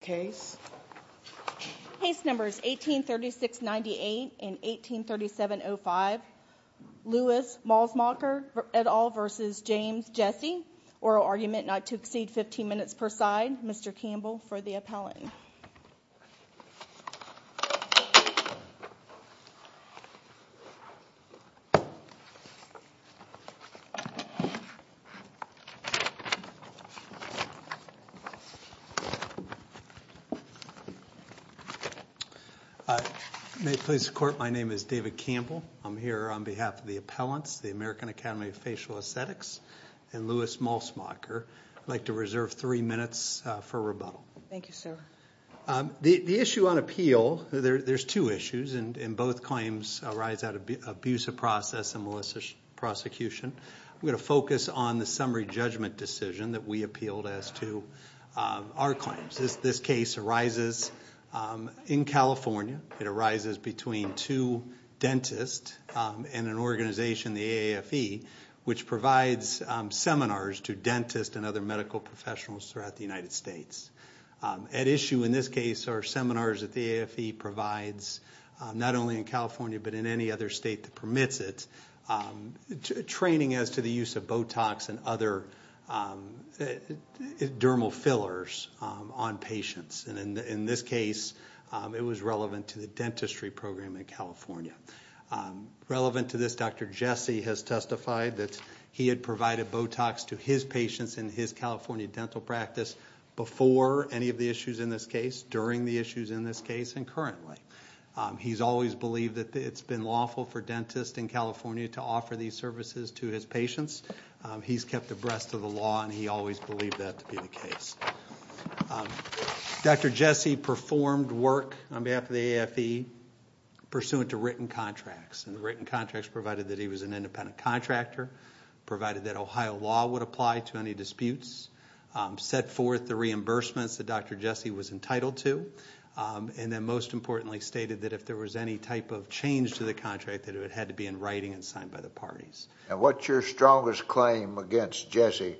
Case Numbers 1836-98 and 1837-05 Lewis Malcmacher et al. v. James Jesse Oral Argument not to Please support. My name is David Campbell. I'm here on behalf of the appellants, the American Academy of Facial Aesthetics and Lewis Malcmacher. I'd like to reserve three minutes for rebuttal. Thank you, sir. The issue on appeal, there's two issues and both claims arise out of abusive process and malicious prosecution. We're going to focus on the summary judgment decision that we appealed as to our claims. This case arises in California. It arises between two dentists and an organization, the AAFE, which provides seminars to dentists and other medical professionals throughout the United States. At issue in this case are seminars that the AAFE provides not only in California but in any other state that permits it, training as to the use of Botox and other dermal fillers on patients. And in this case, it was relevant to the dentistry program in California. Relevant to this, Dr. Jesse has testified that he had provided Botox to his patients in his California dental practice before any of the issues in this case, during the issues in this case, and currently. He's always believed that it's been lawful for dentists in California to offer these services to his patients. He's kept abreast of the law and he always believed that to be the case. Dr. Jesse performed work on behalf of the AAFE pursuant to written contracts and the written contracts provided that he was an independent contractor, provided that Ohio law would apply to any disputes, set forth the reimbursements that Dr. Jesse was entitled to, and then most importantly stated that if there was any type of change to the contract that it had to be in writing and signed by the parties. And what's your strongest claim against Jesse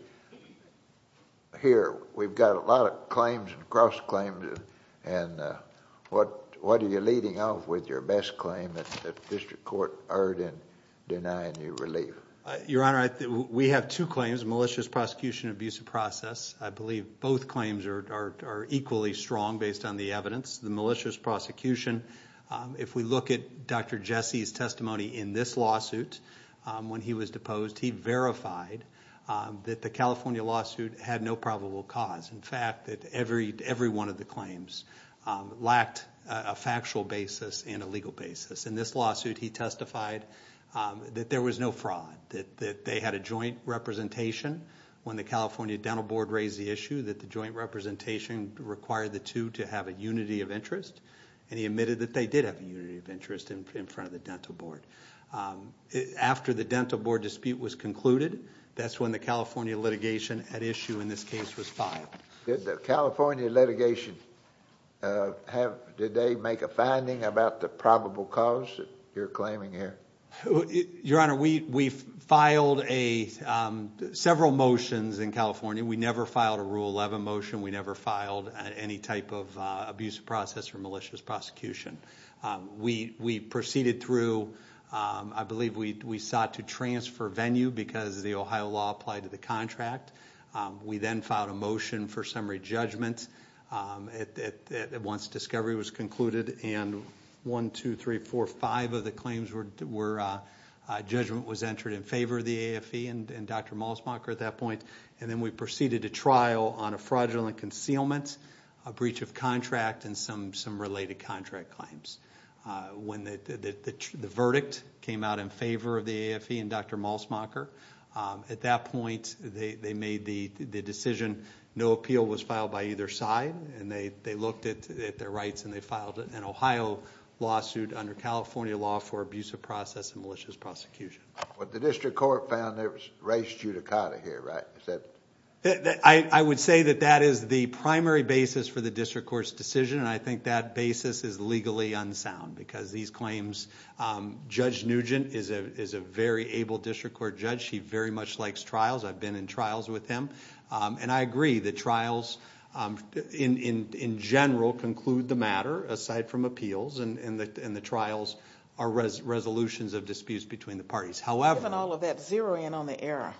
here? We've got a lot of claims and cross-claims and what are you leading off with your best claim that the district court heard in denying you relief? Your Honor, we have two claims, malicious prosecution and abusive process. I believe both claims are equally strong based on the evidence. The malicious prosecution, if we look at Dr. Jesse's testimony in this lawsuit, when he was deposed, he verified that the California lawsuit had no probable cause. In fact, that every one of the claims lacked a factual basis and a legal basis. In this lawsuit, he testified that there was no fraud, that they had a joint representation when the California Dental Board raised the issue that the joint representation required the two to have a unity of interest and he admitted that they did have a unity of interest in front of the Dental Board. After the Dental Board dispute was concluded, that's when the California litigation at issue in this case was filed. Did the California litigation, did they make a finding about the probable cause that you're claiming here? Your Honor, we filed several motions in California. We never filed a Rule 11 motion. We never filed any type of abusive process or malicious prosecution. We proceeded through, I believe we sought to transfer venue because the Ohio law applied to the contract. We then filed a motion for summary judgment once discovery was concluded. One, two, three, four, five of the claims were judgment was entered in favor of the AFE and Dr. Malsmacher at that point. Then we proceeded to trial on a fraudulent concealment, a breach of contract, and some related contract claims. When the verdict came out in favor of the AFE and Dr. Malsmacher, at that point they made the decision no appeal was filed by either side and they looked at their rights and they filed an Ohio lawsuit under California law for abusive process and malicious prosecution. But the district court found there was race judicata here, right? I would say that that is the primary basis for the district court's decision and I think that basis is legally unsound because these claims, Judge Nugent is a very able district court judge. He very much likes trials. I've been in trials with him and I agree that trials in general conclude the matter aside from appeals and the trials are resolutions of disputes between the parties. Given all of that, zero in on the error.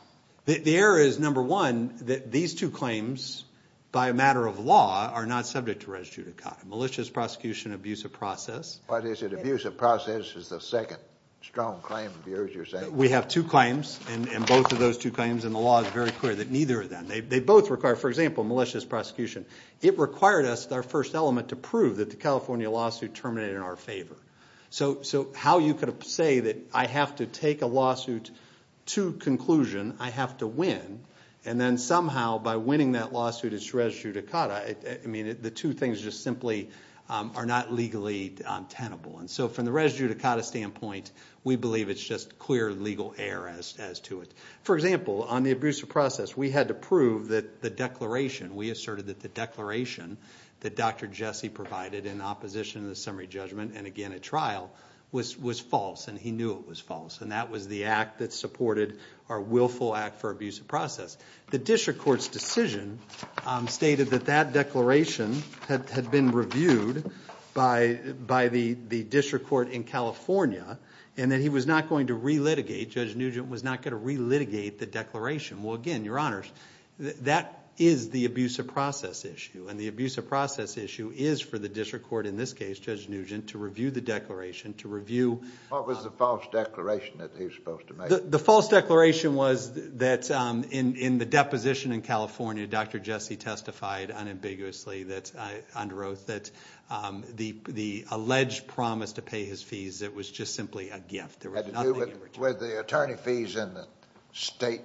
The error is, number one, that these two claims, by a matter of law, are not subject to race judicata. Malicious prosecution, abusive process. What is it? Abusive process is the second strong claim of yours, you're saying? We have two claims and both of those two claims and the law is very clear that neither of them. They both require, for example, malicious prosecution. It required us, our first element, to prove that the California lawsuit terminated in our favor. So how you could say that I have to take a lawsuit to conclusion, I have to win, and then somehow by winning that lawsuit it's race judicata. I mean, the two things just simply are not legally tenable. And so from the race judicata standpoint, we believe it's just clear legal error as to it. For example, on the abusive process, we had to prove that the declaration, we asserted that the declaration that Dr. Jesse provided in opposition to the summary judgment, and again at trial, was false. And he knew it was false. And that was the act that supported our willful act for abusive process. The district court's decision stated that that declaration had been reviewed by the district court in California and that he was not going to re-litigate, Judge Nugent was not going to re-litigate the declaration. Well, again, your honors, that is the abusive process issue. And the abusive process issue is for the district court, in this case Judge Nugent, to review the declaration, to review- What was the false declaration that he was supposed to make? The false declaration was that in the deposition in California, Dr. Jesse testified unambiguously that, under oath, that the alleged promise to pay his fees, it was just simply a gift. Had to do with the attorney fees and the state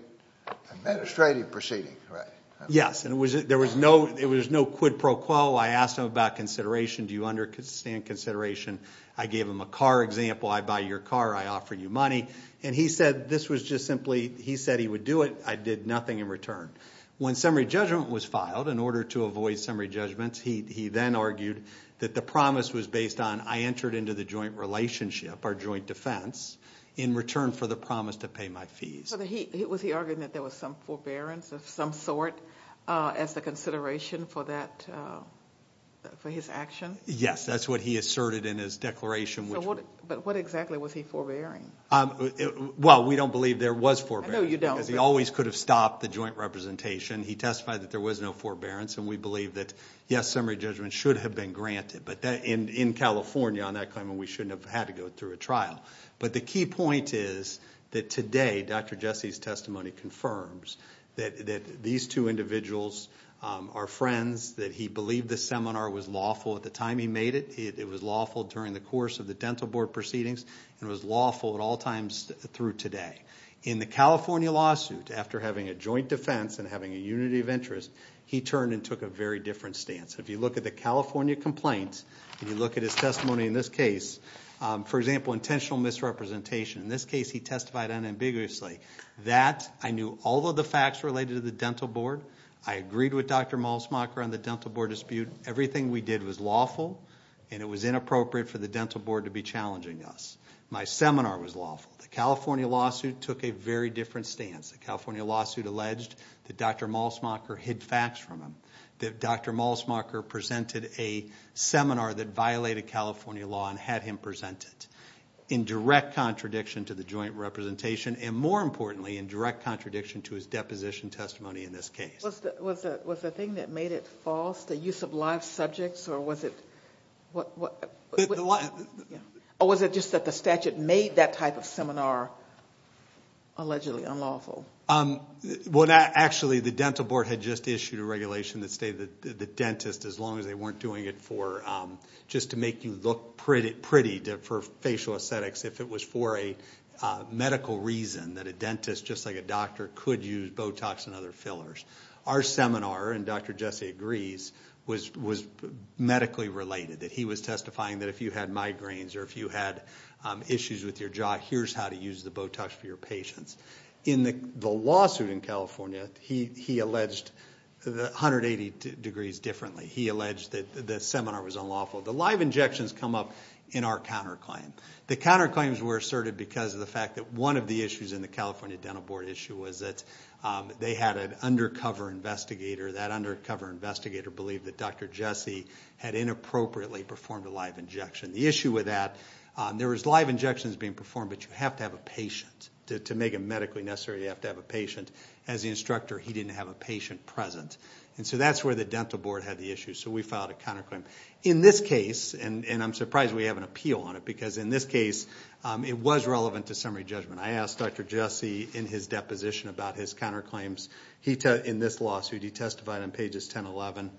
administrative proceedings, right? Yes. And there was no quid pro quo. I asked him about consideration. Do you understand consideration? I gave him a car example. I buy your car. I offer you money. And he said this was just simply, he said he would do it. I did nothing in return. When summary judgment was filed, in order to avoid summary judgments, he then argued that the promise was based on, I entered into the joint relationship or joint defense in return for the promise to pay my fees. Was he arguing that there was some forbearance of some sort as the consideration for that, for his action? Yes. That's what he asserted in his declaration. But what exactly was he forbearing? Well, we don't believe there was forbearance. No, you don't. Because he always could have stopped the joint representation. He testified that there was no forbearance. And we believe that, yes, summary judgment should have been granted. But in California, on that claim, we shouldn't have had to go through a trial. But the key point is that today, Dr. Jesse's testimony confirms that these two individuals are friends, that he believed the seminar was lawful at the time he made it. It was lawful during the course of the dental board proceedings. It was lawful at all times through today. In the California lawsuit, after having a joint defense and having a unity of interest, he turned and took a very different stance. If you look at the California complaint and you look at his testimony in this case, for example, intentional misrepresentation. In this case, he testified unambiguously. That, I knew all of the facts related to the dental board. I agreed with Dr. Malsmacher on the dental board dispute. Everything we did was lawful, and it was inappropriate for the dental board to be challenging us. My seminar was lawful. The California lawsuit took a very different stance. The California lawsuit alleged that Dr. Malsmacher hid facts from him. That Dr. Malsmacher presented a seminar that violated California law and had him present it. In direct contradiction to the joint representation, and more importantly, in direct contradiction to his deposition testimony in this case. Was the thing that made it false, the use of live subjects, or was it just that the statute made that type of seminar allegedly unlawful? Actually, the dental board had just issued a regulation that stated that the dentist, as long as they weren't doing it just to make you look pretty for facial aesthetics, if it was for a medical reason that a dentist, just like a doctor, could use Botox and other fillers. Our seminar, and Dr. Jesse agrees, was medically related. He was testifying that if you had migraines or if you had issues with your jaw, here's how to use the Botox for your patients. In the lawsuit in California, he alleged 180 degrees differently. He alleged that the seminar was unlawful. The live injections come up in our counterclaim. The counterclaims were asserted because of the fact that one of the issues in the California dental board issue was that they had an undercover investigator. That undercover investigator believed that Dr. Jesse had inappropriately performed a live injection. The issue with that, there was live injections being performed, but you have to have a patient. To make it medically necessary, you have to have a patient. As the instructor, he didn't have a patient present. And so that's where the dental board had the issue, so we filed a counterclaim. In this case, and I'm surprised we have an appeal on it, because in this case, it was relevant to summary judgment. I asked Dr. Jesse in his deposition about his counterclaims. In this lawsuit, he testified on pages 10 and 11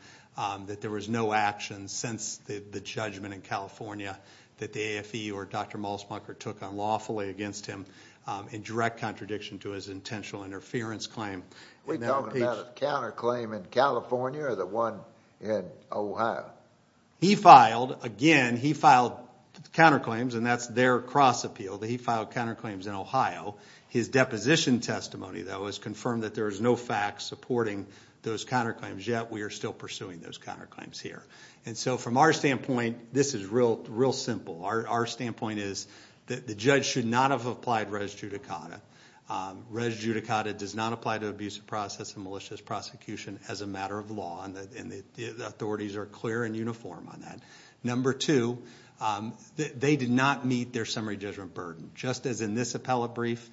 that there was no action since the judgment in California that the AFE or Dr. Malsmunker took unlawfully against him in direct contradiction to his intentional interference claim. Are we talking about a counterclaim in California or the one in Ohio? He filed, again, he filed counterclaims, and that's their cross-appeal. He filed counterclaims in Ohio. His deposition testimony, though, has confirmed that there is no fact supporting those counterclaims yet. We are still pursuing those counterclaims here. And so from our standpoint, this is real simple. Our standpoint is that the judge should not have applied res judicata. Res judicata does not apply to abusive process and malicious prosecution as a matter of law, and the authorities are clear and uniform on that. Number two, they did not meet their summary judgment burden. Just as in this appellate brief,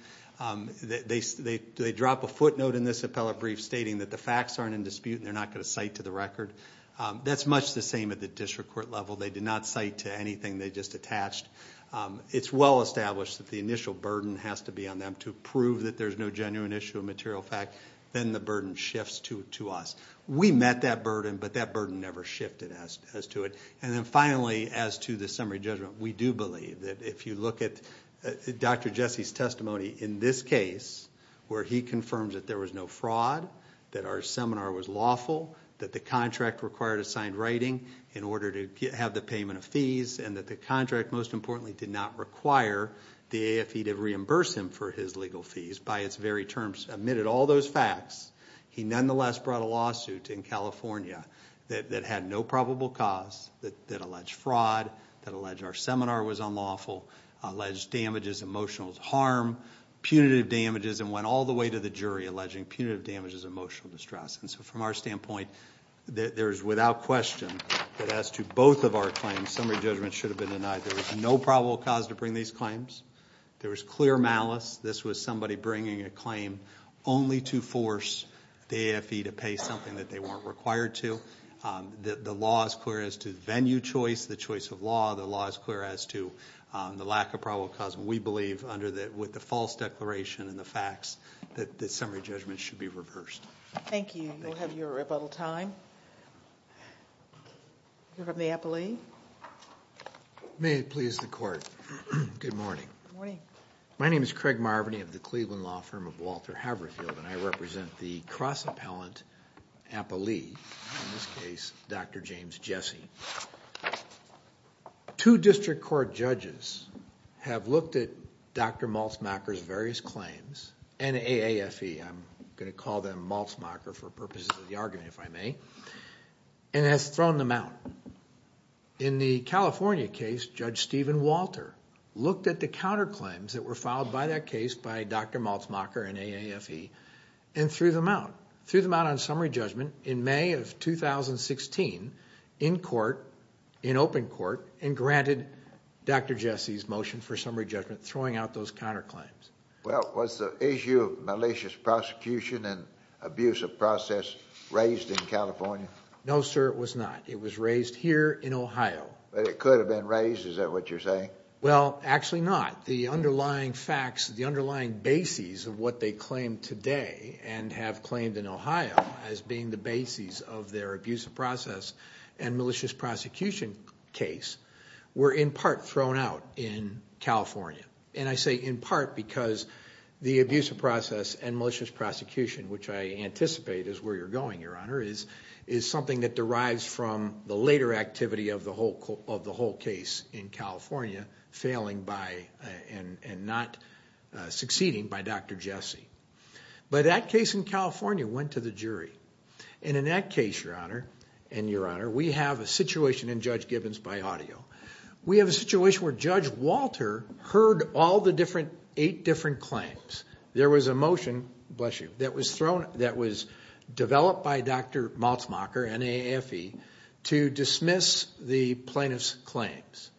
they drop a footnote in this appellate brief stating that the facts aren't in dispute and they're not going to cite to the record. That's much the same at the district court level. They did not cite to anything they just attached. It's well established that the initial burden has to be on them to prove that there's no genuine issue of material fact. Then the burden shifts to us. We met that burden, but that burden never shifted as to it. And then finally, as to the summary judgment, we do believe that if you look at Dr. Jesse's testimony in this case where he confirms that there was no fraud, that our seminar was lawful, that the contract required assigned writing in order to have the payment of fees, and that the contract most importantly did not require the AFE to reimburse him for his legal fees by its very terms, admitted all those facts, he nonetheless brought a lawsuit in California that had no probable cause, that alleged fraud, that alleged our seminar was unlawful, alleged damages, emotional harm, punitive damages, and went all the way to the jury alleging punitive damages and emotional distress. And so from our standpoint, there is without question that as to both of our claims, summary judgments should have been denied. There was no probable cause to bring these claims. There was clear malice. This was somebody bringing a claim only to force the AFE to pay something that they weren't required to. The law is clear as to venue choice, the choice of law. The law is clear as to the lack of probable cause. We believe with the false declaration and the facts that the summary judgment should be reversed. Thank you. You'll have your rebuttal time. You're from the Appellee. May it please the Court. Good morning. Good morning. My name is Craig Marvany of the Cleveland Law Firm of Walter Haverfield, and I represent the cross-appellant appellee, in this case, Dr. James Jesse. Two district court judges have looked at Dr. Maltzmacher's various claims and AAFE. I'm going to call them Maltzmacher for purposes of the argument, if I may, and has thrown them out. In the California case, Judge Stephen Walter looked at the counterclaims that were filed by that case by Dr. Maltzmacher and AAFE and threw them out. Threw them out on summary judgment in May of 2016 in court, in open court, and granted Dr. Jesse's motion for summary judgment, throwing out those counterclaims. Well, was the issue of malicious prosecution and abuse of process raised in California? No, sir, it was not. It was raised here in Ohio. But it could have been raised, is that what you're saying? Well, actually not. The underlying facts, the underlying bases of what they claim today and have claimed in Ohio as being the bases of their abuse of process and malicious prosecution case were in part thrown out in California. And I say in part because the abuse of process and malicious prosecution, which I anticipate is where you're going, Your Honor, is something that derives from the later activity of the whole case in California, failing by and not succeeding by Dr. Jesse. But that case in California went to the jury. And in that case, Your Honor, and Your Honor, we have a situation in Judge Gibbons by audio. We have a situation where Judge Walter heard all the eight different claims. There was a motion that was developed by Dr. Maltzmacher and AAFE to dismiss the plaintiff's claims.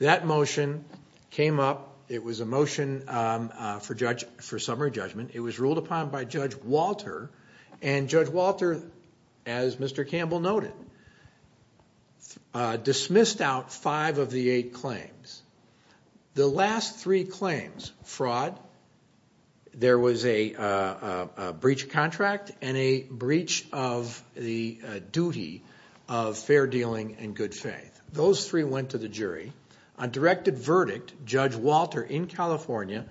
That motion came up. It was a motion for summary judgment. It was ruled upon by Judge Walter. And Judge Walter, as Mr. Campbell noted, dismissed out five of the eight claims. The last three claims, fraud, there was a breach of contract and a breach of the duty of fair dealing and good faith. Those three went to the jury. A directed verdict, Judge Walter in California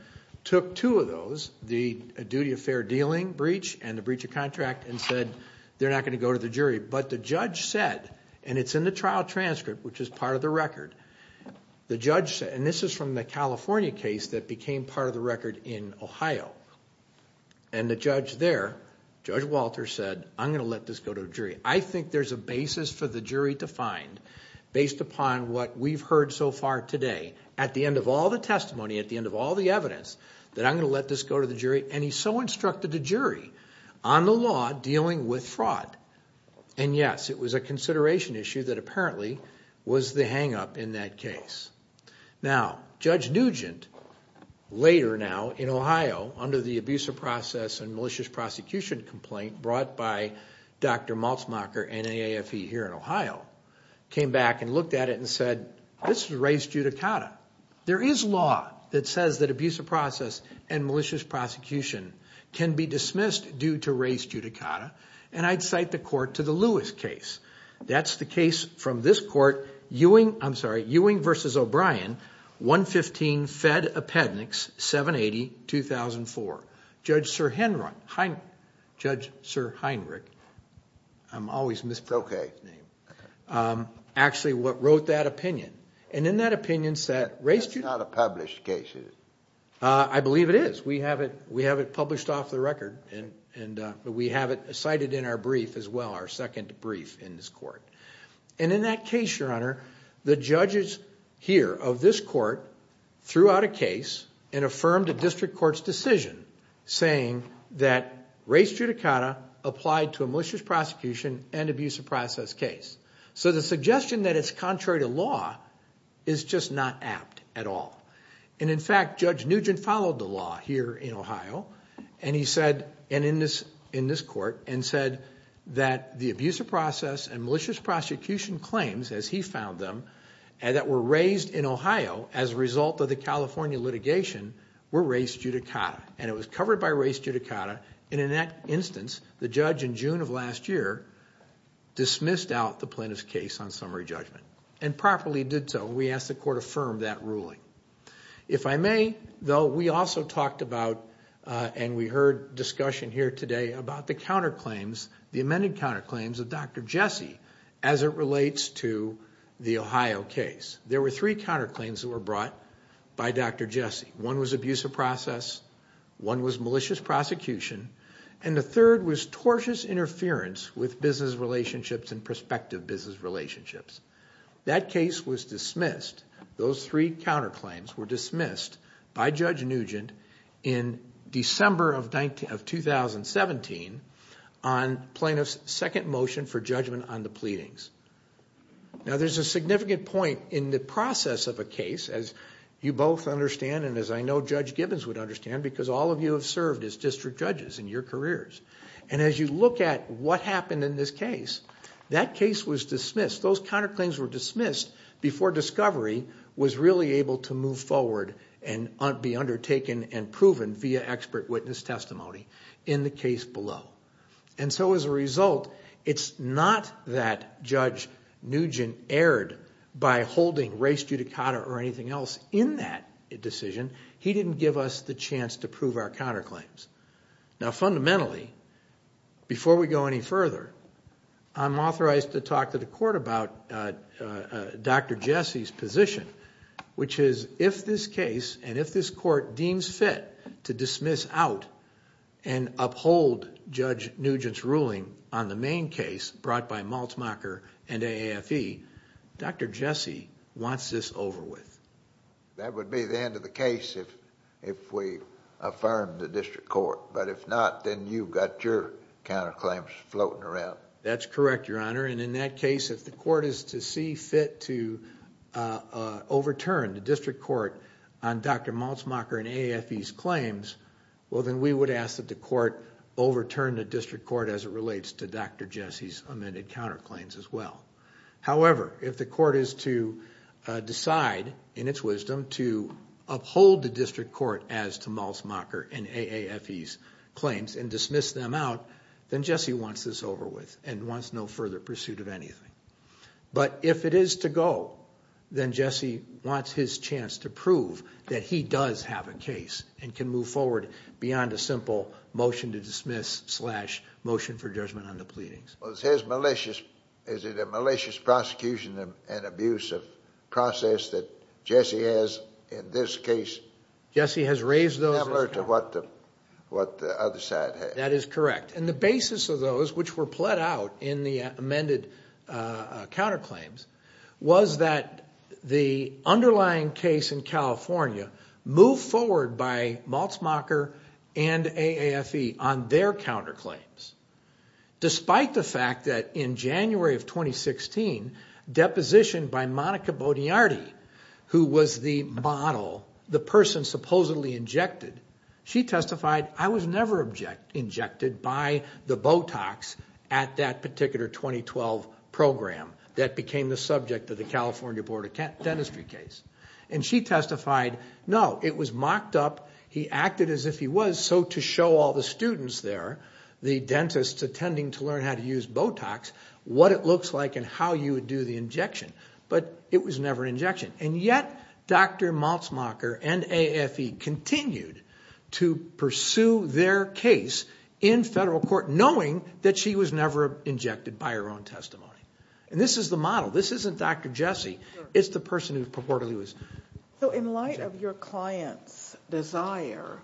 took two of those, the duty of fair dealing breach and the breach of contract, and said they're not going to go to the jury. But the judge said, and it's in the trial transcript, which is part of the record, the judge said, and this is from the California case that became part of the record in Ohio. And the judge there, Judge Walter said, I'm going to let this go to the jury. I think there's a basis for the jury to find, based upon what we've heard so far today, at the end of all the testimony, at the end of all the evidence, that I'm going to let this go to the jury. And he so instructed the jury on the law dealing with fraud. And, yes, it was a consideration issue that apparently was the hang-up in that case. Now, Judge Nugent, later now in Ohio, under the abuse of process and malicious prosecution complaint brought by Dr. Maltzmacher and AAFE here in Ohio, came back and looked at it and said, this is race judicata. There is law that says that abuse of process and malicious prosecution can be dismissed due to race judicata, and I'd cite the court to the Lewis case. I believe it is. We have it published off the record, and we have it cited in our brief as well, our second brief in this court. And in that case, Your Honor, the judges here of this court threw out a case and affirmed a district court's decision saying that race judicata applied to a malicious prosecution and abuse of process case. So the suggestion that it's contrary to law is just not apt at all. And, in fact, Judge Nugent followed the law here in Ohio and in this court and said that the abuse of process and malicious prosecution claims, as he found them, that were raised in Ohio as a result of the California litigation were race judicata, and it was covered by race judicata, and in that instance, the judge in June of last year dismissed out the plaintiff's case on summary judgment and properly did so when we asked the court to affirm that ruling. If I may, though, we also talked about, and we heard discussion here today about the counterclaims, the amended counterclaims of Dr. Jessie as it relates to the Ohio case. There were three counterclaims that were brought by Dr. Jessie. One was abuse of process, one was malicious prosecution, and the third was tortious interference with business relationships and prospective business relationships. That case was dismissed. Those three counterclaims were dismissed by Judge Nugent in December of 2017 on plaintiff's second motion for judgment on the pleadings. Now, there's a significant point in the process of a case, as you both understand and as I know Judge Gibbons would understand, because all of you have served as district judges in your careers, and as you look at what happened in this case, that case was dismissed. Those counterclaims were dismissed before discovery was really able to move forward and be undertaken and proven via expert witness testimony in the case below. And so as a result, it's not that Judge Nugent erred by holding race judicata or anything else in that decision. He didn't give us the chance to prove our counterclaims. Now, fundamentally, before we go any further, I'm authorized to talk to the court about Dr. Jesse's position, which is if this case and if this court deems fit to dismiss out and uphold Judge Nugent's ruling on the main case brought by Maltzmacher and AAFE, Dr. Jesse wants this over with. That would be the end of the case if we affirm the district court, but if not, then you've got your counterclaims floating around. That's correct, Your Honor. And in that case, if the court is to see fit to overturn the district court on Dr. Maltzmacher and AAFE's claims, well, then we would ask that the court overturn the district court as it relates to Dr. Jesse's amended counterclaims as well. However, if the court is to decide, in its wisdom, to uphold the district court as to Maltzmacher and AAFE's claims and dismiss them out, then Jesse wants this over with and wants no further pursuit of anything. But if it is to go, then Jesse wants his chance to prove that he does have a case and can move forward beyond a simple motion to dismiss slash motion for judgment on the pleadings. Is it a malicious prosecution and abusive process that Jesse has in this case? Jesse has raised those. Similar to what the other side has. That is correct. And the basis of those, which were pled out in the amended counterclaims, was that the underlying case in California moved forward by Maltzmacher and AAFE on their counterclaims. Despite the fact that in January of 2016, deposition by Monica Boniardi, who was the model, the person supposedly injected, she testified, I was never injected by the Botox at that particular 2012 program that became the subject of the California Board of Dentistry case. And she testified, no, it was mocked up. He acted as if he was, so to show all the students there, the dentists attending to learn how to use Botox, what it looks like and how you would do the injection. But it was never an injection. And yet Dr. Maltzmacher and AAFE continued to pursue their case in federal court knowing that she was never injected by her own testimony. And this is the model. This isn't Dr. Jesse. It's the person who purportedly was injected. So in light of your client's desire,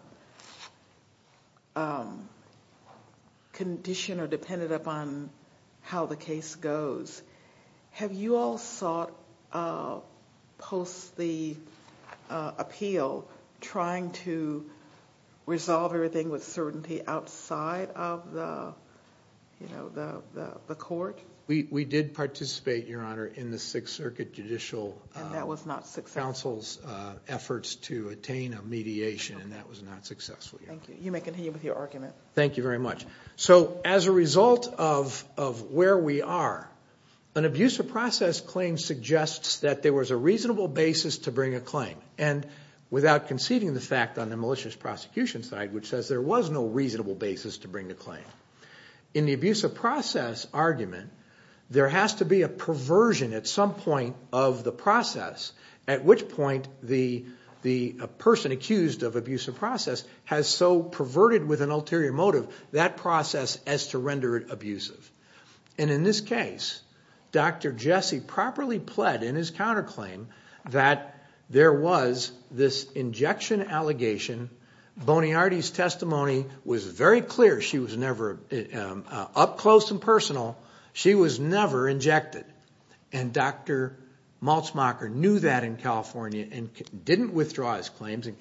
condition, or dependent upon how the case goes, have you all sought post the appeal trying to resolve everything with certainty outside of the court? We did participate, Your Honor, in the Sixth Circuit Judicial Council's efforts to attain a mediation, and that was not successful. Thank you. You may continue with your argument. Thank you very much. So as a result of where we are, an abuse of process claim suggests that there was a reasonable basis to bring a claim. And without conceding the fact on the malicious prosecution side, which says there was no reasonable basis to bring the claim, in the abuse of process argument, there has to be a perversion at some point of the process, at which point the person accused of abuse of process has so perverted, with an ulterior motive, that process as to render it abusive. And in this case, Dr. Jesse properly pled in his counterclaim that there was this injection allegation. Boniardi's testimony was very clear. She was never up close and personal. She was never injected. And Dr. Maltzmacher knew that in California and didn't withdraw his claims and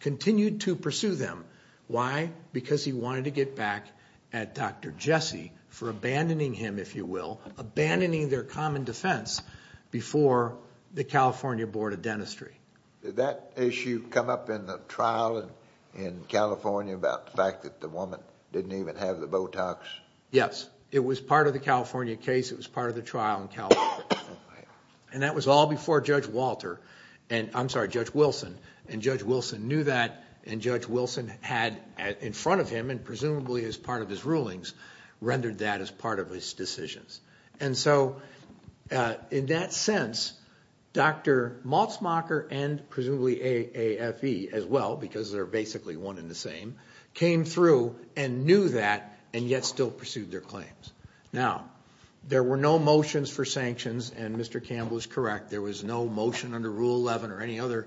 continued to pursue them. Why? Because he wanted to get back at Dr. Jesse for abandoning him, if you will, abandoning their common defense before the California Board of Dentistry. Did that issue come up in the trial in California about the fact that the woman didn't even have the Botox? Yes. It was part of the California case. It was part of the trial in California. And that was all before Judge Wilson knew that, and Judge Wilson had in front of him and presumably as part of his rulings rendered that as part of his decisions. And so in that sense, Dr. Maltzmacher and presumably AAFE as well, because they're basically one and the same, came through and knew that and yet still pursued their claims. Now, there were no motions for sanctions, and Mr. Campbell is correct, there was no motion under Rule 11 or any other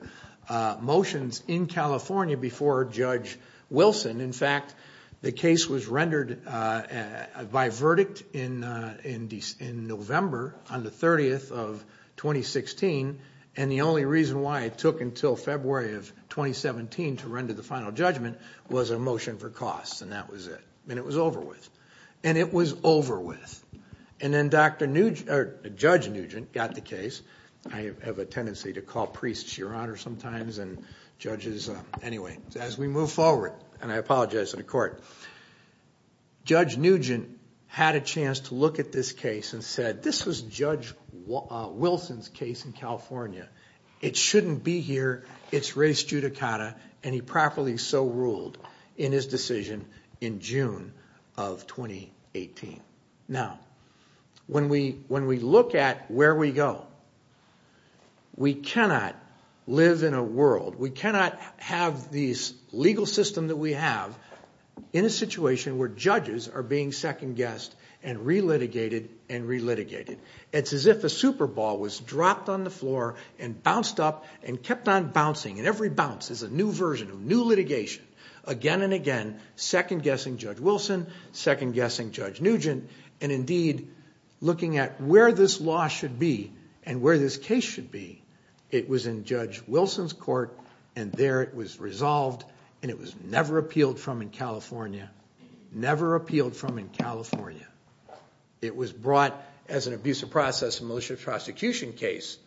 motions in California before Judge Wilson. In fact, the case was rendered by verdict in November on the 30th of 2016, and the only reason why it took until February of 2017 to render the final judgment was a motion for costs, and that was it. And it was over with. And then Judge Nugent got the case. I have a tendency to call priests, Your Honor, sometimes, and judges. Anyway, as we move forward, and I apologize to the court, Judge Nugent had a chance to look at this case and said, this was Judge Wilson's case in California. It shouldn't be here. It's res judicata, and he properly so ruled in his decision in June of 2017. Now, when we look at where we go, we cannot live in a world, we cannot have these legal systems that we have in a situation where judges are being second-guessed and re-litigated and re-litigated. It's as if a super ball was dropped on the floor and bounced up and kept on bouncing, and every bounce is a new version of new litigation, again and again, second-guessing Judge Wilson, second-guessing Judge Nugent. And indeed, looking at where this law should be and where this case should be, it was in Judge Wilson's court, and there it was resolved, and it was never appealed from in California, never appealed from in California. It was brought as an abusive process, a militia prosecution case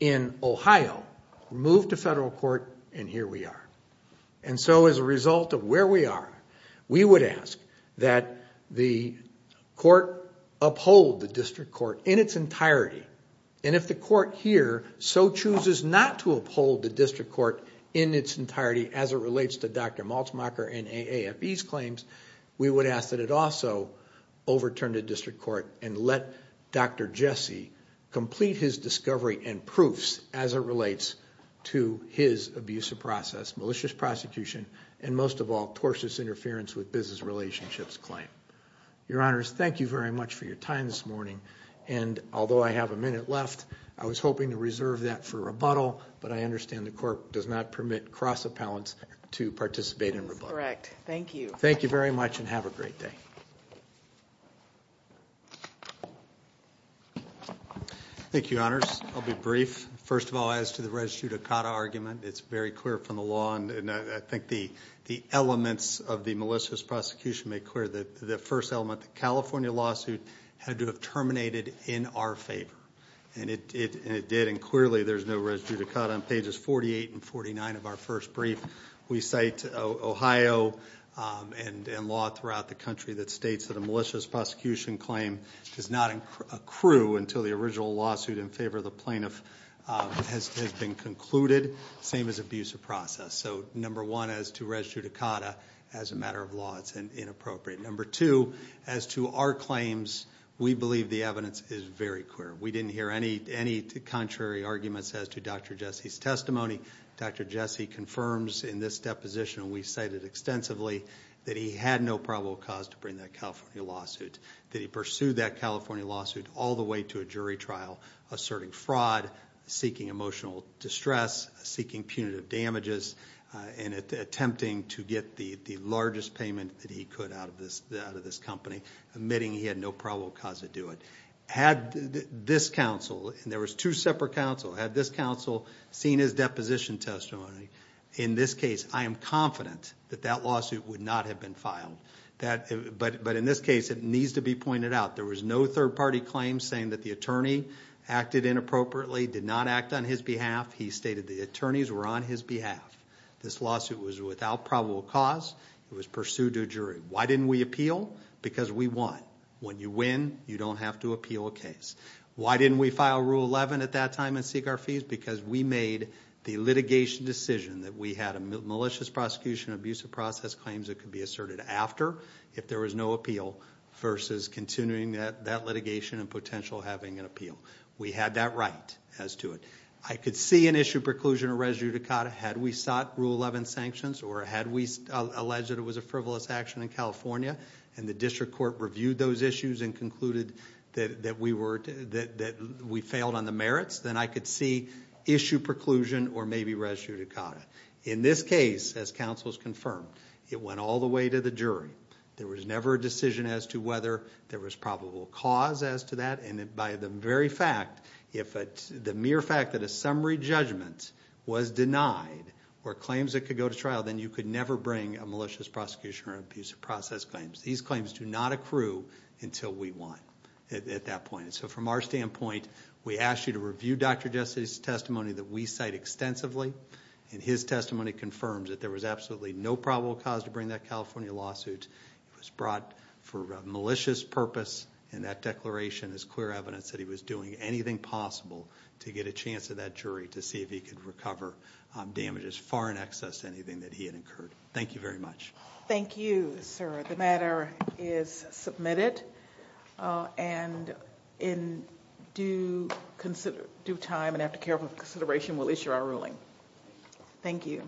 in Ohio, moved to federal court, and here we are. And so as a result of where we are, we would ask that the court uphold the district court in its entirety, and if the court here so chooses not to uphold the district court in its entirety as it relates to Dr. Maltzmacher and AAFE's claims, we would ask that it also overturn the district court and let Dr. Jesse complete his discovery and proofs as it relates to his abusive process, militia prosecution, and most of all, tortious interference with business relationships claim. Your Honors, thank you very much for your time this morning, and although I have a minute left, I was hoping to reserve that for rebuttal, but I understand the court does not permit cross-appellants to participate in rebuttal. That's correct. Thank you. Thank you very much, and have a great day. Thank you, Honors. I'll be brief. First of all, as to the res judicata argument, it's very clear from the law, and I think the elements of the malicious prosecution make clear that the first element, the California lawsuit had to have terminated in our favor, and it did, and clearly there's no res judicata. On pages 48 and 49 of our first brief, we cite Ohio and law throughout the country that states that a malicious prosecution claim does not accrue until the original lawsuit in favor of the plaintiff has been concluded, same as abusive process. So number one, as to res judicata, as a matter of law, it's inappropriate. Number two, as to our claims, we believe the evidence is very clear. We didn't hear any contrary arguments as to Dr. Jesse's testimony. Dr. Jesse confirms in this deposition, and we cite it extensively, that he had no probable cause to bring that California lawsuit, that he pursued that California lawsuit all the way to a jury trial, asserting fraud, seeking emotional distress, seeking punitive damages, and attempting to get the largest payment that he could out of this company, admitting he had no probable cause to do it. Had this counsel, and there was two separate counsel, had this counsel seen his deposition testimony, in this case, I am confident that that lawsuit would not have been filed. But in this case, it needs to be pointed out, there was no third-party claim saying that the attorney acted inappropriately, did not act on his behalf. He stated the attorneys were on his behalf. This lawsuit was without probable cause. It was pursued to a jury. Why didn't we appeal? Because we won. When you win, you don't have to appeal a case. Why didn't we file Rule 11 at that time and seek our fees? Because we made the litigation decision that we had a malicious prosecution, abusive process claims that could be asserted after if there was no appeal, versus continuing that litigation and potential having an appeal. We had that right as to it. I could see an issue preclusion or res judicata had we sought Rule 11 sanctions or had we alleged it was a frivolous action in California and the district court reviewed those issues and concluded that we failed on the merits, then I could see issue preclusion or maybe res judicata. In this case, as counsel has confirmed, it went all the way to the jury. There was never a decision as to whether there was probable cause as to that, and by the very fact, the mere fact that a summary judgment was denied or claims that could go to trial, then you could never bring a malicious prosecution or abusive process claims. These claims do not accrue until we won at that point. So from our standpoint, we ask you to review Dr. Jesse's testimony that we cite extensively and his testimony confirms that there was absolutely no probable cause to bring that California lawsuit. It was brought for malicious purpose, and that declaration is clear evidence that he was doing anything possible to get a chance at that jury to see if he could recover damages far in excess of anything that he had incurred. Thank you very much. Thank you, sir. The matter is submitted, and in due time and after careful consideration, we'll issue our ruling. Thank you.